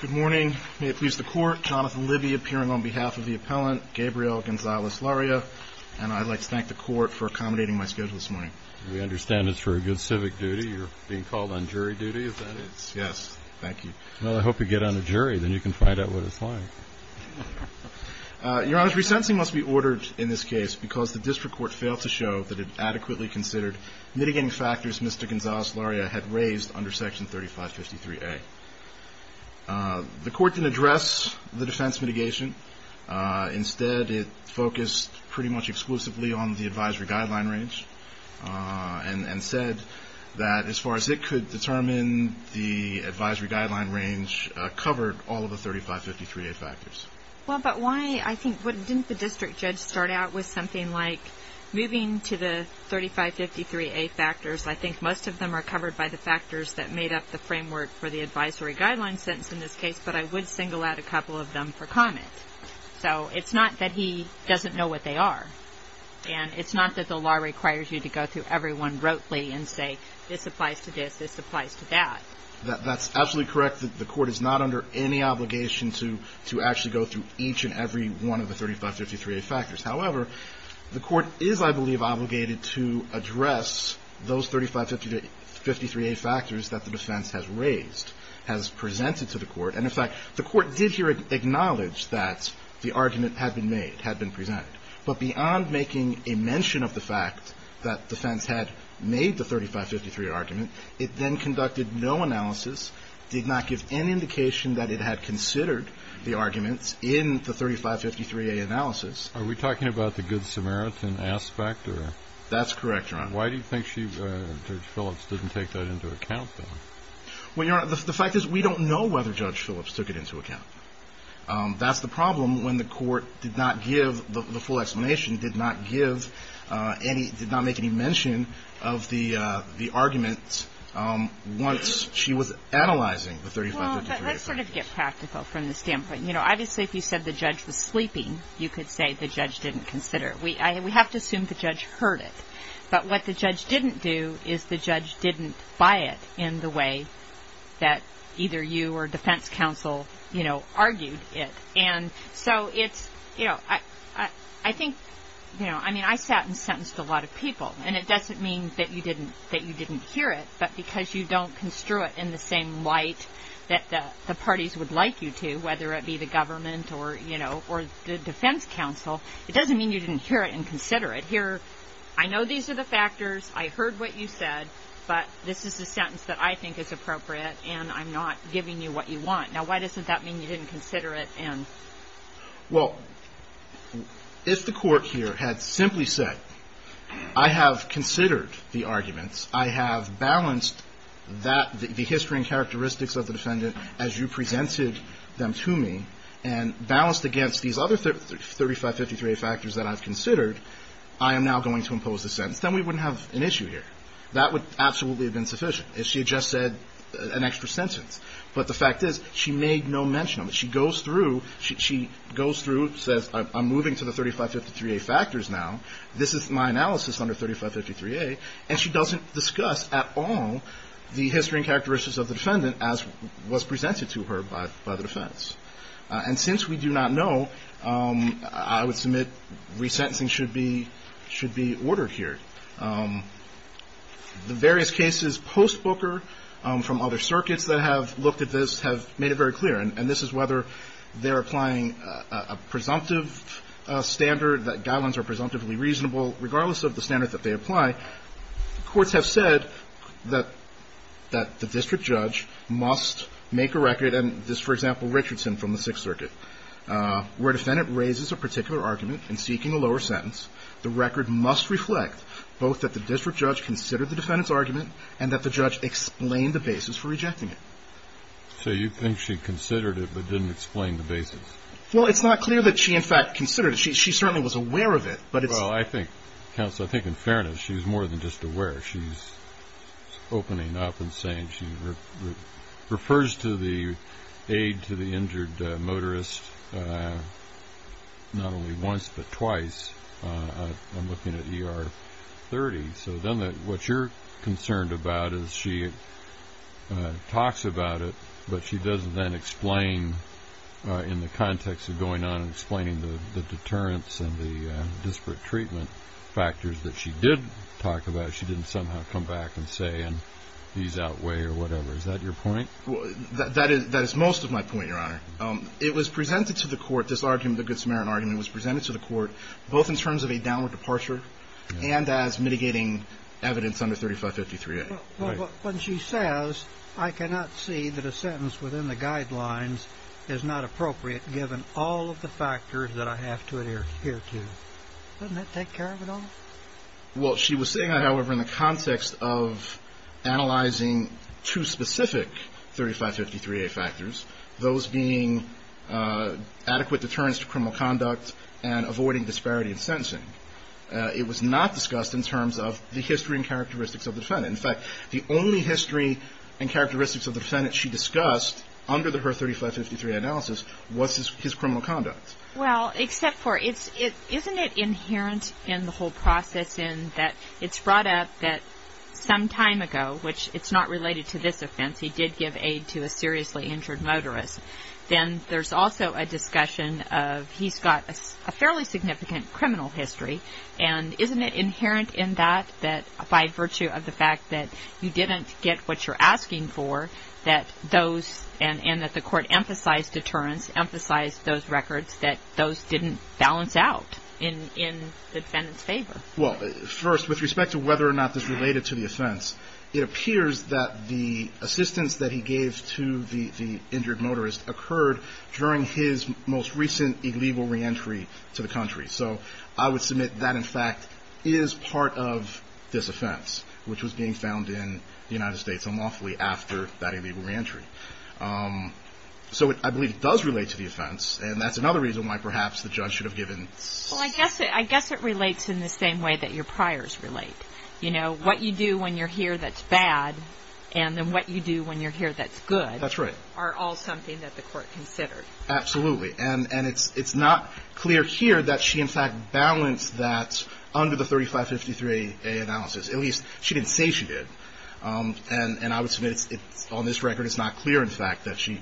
Good morning. May it please the court, Jonathan Libby appearing on behalf of the appellant, Gabriel Gonzalez-Larrea. And I'd like to thank the court for accommodating my schedule this morning. We understand it's for a good civic duty. You're being called on jury duty, is that it? Yes. Thank you. Well, I hope you get on a jury. Then you can find out what it's like. Your Honor, resensing must be ordered in this case because the district court failed to show that it adequately considered mitigating factors Mr. Gonzalez-Larrea had raised under section 3553A. The court didn't address the defense mitigation. Instead, it focused pretty much exclusively on the advisory guideline range and said that as far as it could determine, the advisory guideline range covered all of the 3553A factors. Well, but why, I think, didn't the district judge start out with something like, moving to the 3553A factors, I think most of them are covered by the factors that made up the framework for the advisory guideline sentence in this case, but I would single out a couple of them for comment. So it's not that he doesn't know what they are. And it's not that the law requires you to go through everyone rotely and say, this applies to this, this applies to that. That's absolutely correct that the court is not under any obligation to actually go through each and every one of the 3553A factors. However, the court is, I believe, obligated to address those 3553A factors that the defense has raised, has presented to the court. And in fact, the court did here acknowledge that the argument had been made, had been presented. But beyond making a mention of the fact that defense had made the 3553 argument, it then conducted no analysis, did not give any indication that it had considered the arguments in the 3553A analysis. Are we talking about the Good Samaritan aspect? That's correct, Your Honor. Why do you think Judge Phillips didn't take that into account, then? Well, Your Honor, the fact is we don't know whether Judge Phillips took it into account. That's the problem when the court did not give, the full explanation did not give any, did not make any mention of the arguments once she was analyzing the 3553A factors. Well, but let's sort of get practical from the standpoint. You know, obviously, if you said the judge was sleeping, you could say the judge didn't consider it. We have to assume the judge heard it. But what the judge didn't do is the judge didn't buy it in the way that either you or defense counsel, you know, argued it. And so it's, you know, I think, you know, I mean, I sat and sentenced a lot of people. And it doesn't mean that you didn't hear it. But because you don't construe it in the same light that the parties would like you to, whether it be the government or, you know, or the defense counsel, it doesn't mean you didn't hear it and consider it. You hear, I know these are the factors. I heard what you said. But this is a sentence that I think is appropriate. And I'm not giving you what you want. Now, why doesn't that mean you didn't consider it? Well, if the court here had simply said, I have considered the arguments. I have balanced that, the history and characteristics of the defendant as you presented them to me, and balanced against these other 3553A factors that I've considered, I am now going to impose this sentence, then we wouldn't have an issue here. That would absolutely have been sufficient if she had just said an extra sentence. But the fact is, she made no mention of it. She goes through, she goes through, says, I'm moving to the 3553A factors now. This is my analysis under 3553A. And she doesn't discuss at all the history and characteristics of the defendant as was presented to her by the defense. And since we do not know, I would submit resentencing should be ordered here. The various cases post-Booker, from other circuits that have looked at this, have made it very clear, and this is whether they're applying a presumptive standard, that guidelines are presumptively reasonable, regardless of the standard that they apply, courts have said that the district judge must make a record, and this, for example, Richardson from the Sixth Circuit, where a defendant raises a particular argument in seeking a lower sentence, the record must reflect both that the district judge considered the defendant's argument and that the judge explained the basis for rejecting it. So you think she considered it but didn't explain the basis? Well, it's not clear that she, in fact, considered it. She certainly was aware of it, but it's – Well, I think, counsel, I think in fairness she's more than just aware. She's opening up and saying she refers to the aid to the injured motorist not only once but twice. I'm looking at ER 30. So then what you're concerned about is she talks about it, but she doesn't then explain in the context of going on and explaining the deterrence and the disparate treatment factors that she did talk about. She didn't somehow come back and say, and these outweigh or whatever. Is that your point? That is most of my point, Your Honor. It was presented to the court, this argument, the Good Samaritan argument, was presented to the court both in terms of a downward departure and as mitigating evidence under 3553A. But when she says, I cannot see that a sentence within the guidelines is not appropriate given all of the factors that I have to adhere to, doesn't that take care of it all? Well, she was saying that, however, in the context of analyzing two specific 3553A factors, those being adequate deterrence to criminal conduct and avoiding disparity in sentencing. It was not discussed in terms of the history and characteristics of the defendant. In fact, the only history and characteristics of the defendant she discussed under her 3553A analysis was his criminal conduct. Well, except for, isn't it inherent in the whole process in that it's brought up that some time ago, which it's not related to this offense, he did give aid to a seriously injured motorist, then there's also a discussion of he's got a fairly significant criminal history. And isn't it inherent in that, by virtue of the fact that you didn't get what you're asking for, and that the court emphasized deterrence, emphasized those records, that those didn't balance out in the defendant's favor? Well, first, with respect to whether or not this is related to the offense, it appears that the assistance that he gave to the injured motorist occurred during his most recent illegal reentry to the country. So I would submit that, in fact, is part of this offense, which was being found in the United States unlawfully after that illegal reentry. So I believe it does relate to the offense, and that's another reason why perhaps the judge should have given... Well, I guess it relates in the same way that your priors relate. You know, what you do when you're here that's bad, and then what you do when you're here that's good... That's right. ...are all something that the court considered. Absolutely. And it's not clear here that she, in fact, balanced that under the 3553A analysis. At least, she didn't say she did. And I would submit, on this record, it's not clear, in fact, that she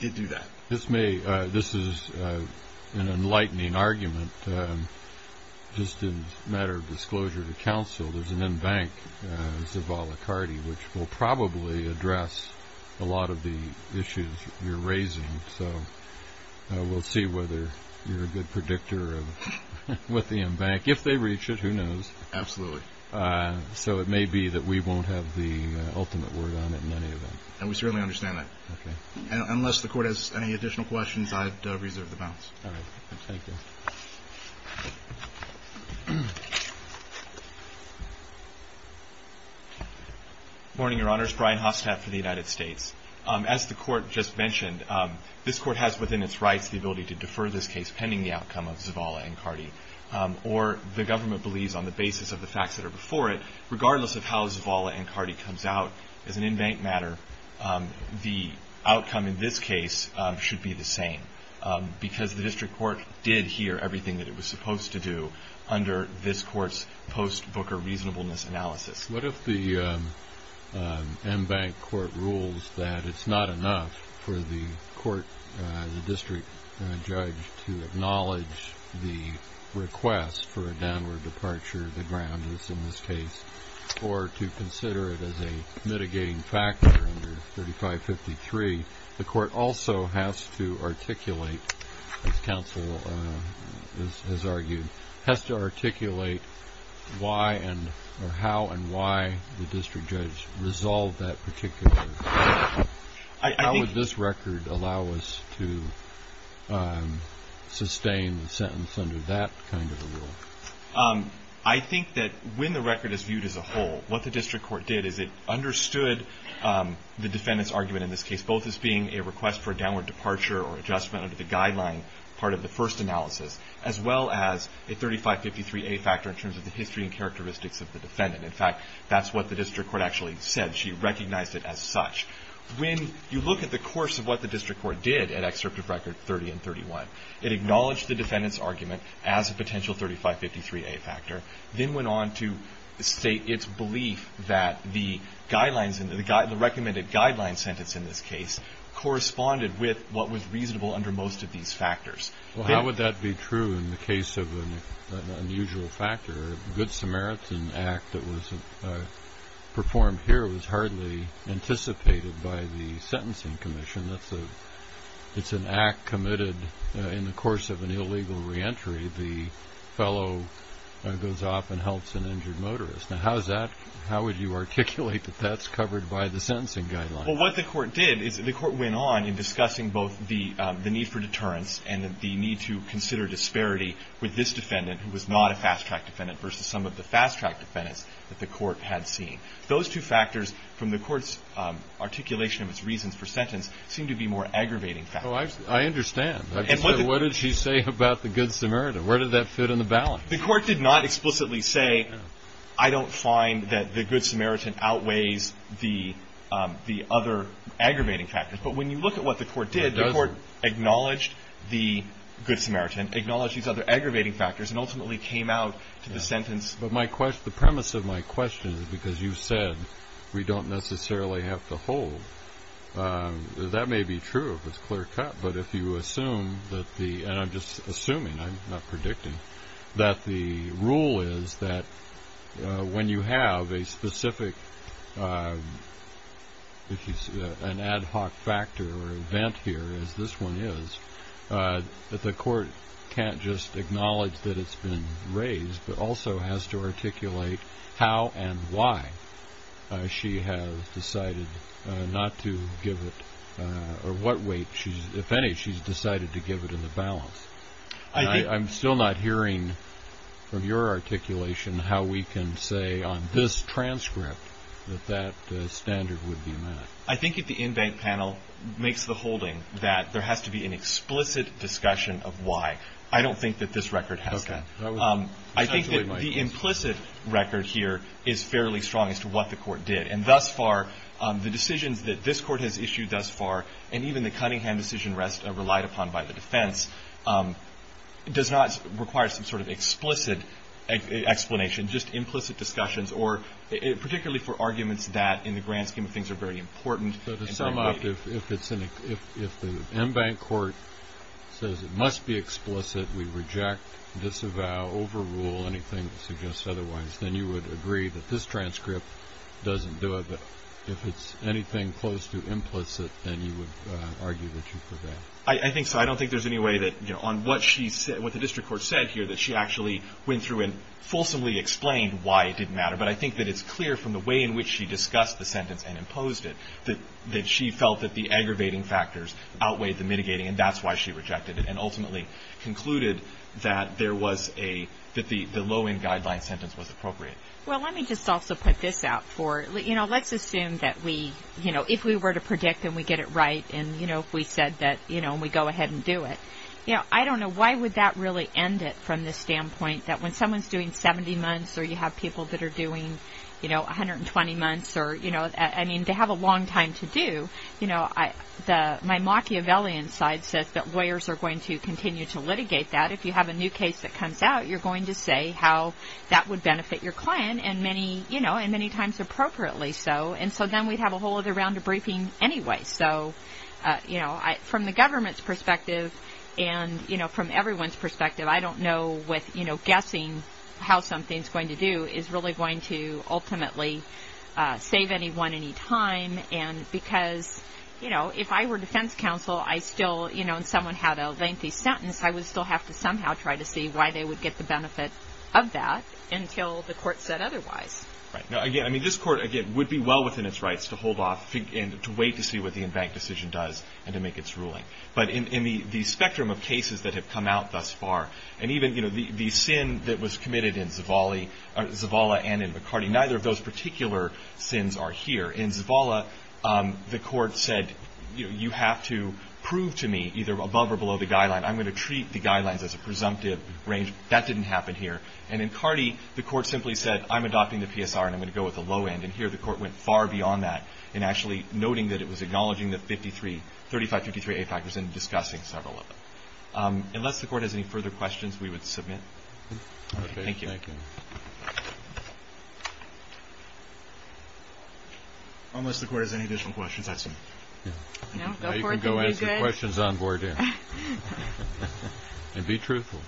did do that. This is an enlightening argument. Just as a matter of disclosure to counsel, there's an en banc, Zavala-Carty, which will probably address a lot of the issues you're raising. So we'll see whether you're a good predictor of what the en banc. If they reach it, who knows. Absolutely. So it may be that we won't have the ultimate word on it in any event. And we certainly understand that. Okay. Unless the court has any additional questions, I'd reserve the balance. All right. Thank you. Good morning, Your Honors. Brian Hostap for the United States. As the Court just mentioned, this Court has within its rights the ability to defer this case pending the outcome of Zavala-Carty. Or the government believes, on the basis of the facts that are before it, regardless of how Zavala-Carty comes out as an en banc matter, the outcome in this case should be the same. Because the District Court did hear everything that it was supposed to do under this Court's post-Booker reasonableness analysis. What if the en banc court rules that it's not enough for the court, the district judge, to acknowledge the request for a downward departure of the ground, as in this case, or to consider it as a mitigating factor under 3553? The court also has to articulate, as counsel has argued, has to articulate how and why the district judge resolved that particular rule. How would this record allow us to sustain the sentence under that kind of a rule? I think that when the record is viewed as a whole, what the District Court did is it understood the defendant's argument in this case, both as being a request for a downward departure or adjustment under the guideline, part of the first analysis, as well as a 3553A factor in terms of the history and characteristics of the defendant. In fact, that's what the District Court actually said. She recognized it as such. When you look at the course of what the District Court did at Excerpt of Record 30 and 31, it acknowledged the defendant's argument as a potential 3553A factor, then went on to state its belief that the guidelines, the recommended guideline sentence in this case, corresponded with what was reasonable under most of these factors. How would that be true in the case of an unusual factor? The Good Samaritan Act that was performed here was hardly anticipated by the sentencing commission. It's an act committed in the course of an illegal reentry. The fellow goes off and helps an injured motorist. How would you articulate that that's covered by the sentencing guideline? What the court did is the court went on in discussing both the need for deterrence and the need to consider disparity with this defendant, who was not a fast-track defendant, versus some of the fast-track defendants that the court had seen. Those two factors from the court's articulation of its reasons for sentence seem to be more aggravating factors. I understand. What did she say about the Good Samaritan? Where did that fit in the balance? The court did not explicitly say, I don't find that the Good Samaritan outweighs the other aggravating factors. But when you look at what the court did, the court acknowledged the Good Samaritan, acknowledged these other aggravating factors, and ultimately came out to the sentence. But the premise of my question is because you said we don't necessarily have to hold. That may be true if it's clear-cut. But if you assume that the – and I'm just assuming, I'm not predicting – that the rule is that when you have a specific, if you see an ad hoc factor or event here, as this one is, that the court can't just acknowledge that it's been raised, but also has to articulate how and why she has decided not to give it, or what weight, if any, she's decided to give it in the balance. I'm still not hearing from your articulation how we can say on this transcript that that standard would be met. I think if the in-bank panel makes the holding that there has to be an explicit discussion of why, I don't think that this record has that. I think that the implicit record here is fairly strong as to what the court did. And thus far, the decisions that this court has issued thus far, and even the Cunningham decision relied upon by the defense, does not require some sort of explicit explanation, just implicit discussions, or particularly for arguments that in the grand scheme of things are very important. But to sum up, if the in-bank court says it must be explicit, we reject, disavow, overrule anything that suggests otherwise, then you would agree that this transcript doesn't do it. But if it's anything close to implicit, then you would argue that you prevail. I think so. I don't think there's any way that on what the district court said here that she actually went through and fulsomely explained why it didn't matter. But I think that it's clear from the way in which she discussed the sentence and imposed it that she felt that the aggravating factors outweighed the mitigating, and that's why she rejected it and ultimately concluded that the low-end guideline sentence was appropriate. Well, let me just also put this out for you. Let's assume that if we were to predict and we get it right, and if we said that we go ahead and do it, I don't know why would that really end it from the standpoint that when someone's doing 70 months or you have people that are doing 120 months or they have a long time to do, my Machiavellian side says that lawyers are going to continue to litigate that. If you have a new case that comes out, you're going to say how that would benefit your client, and many times appropriately so. And so then we'd have a whole other round of briefing anyway. So from the government's perspective and from everyone's perspective, I don't know with guessing how something's going to do is really going to ultimately save anyone any time. And because if I were defense counsel and someone had a lengthy sentence, I would still have to somehow try to see why they would get the benefit of that until the court said otherwise. Again, I mean, this court, again, would be well within its rights to hold off and to wait to see what the in-bank decision does and to make its ruling. But in the spectrum of cases that have come out thus far, and even the sin that was committed in Zavala and in McCarty, neither of those particular sins are here. In Zavala, the court said you have to prove to me either above or below the guideline. I'm going to treat the guidelines as a presumptive range. That didn't happen here. And in McCarty, the court simply said I'm adopting the PSR and I'm going to go with the low end. And here the court went far beyond that in actually noting that it was acknowledging the 3553A factors and discussing several of them. Unless the court has any further questions, we would submit. Thank you. Thank you. Unless the court has any additional questions, that's it. Now you can go ask your questions on board there. And be truthful.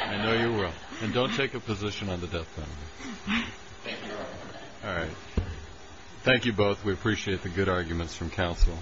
I know you will. And don't take a position on the death penalty. All right. Thank you both. We appreciate the good arguments from counsel.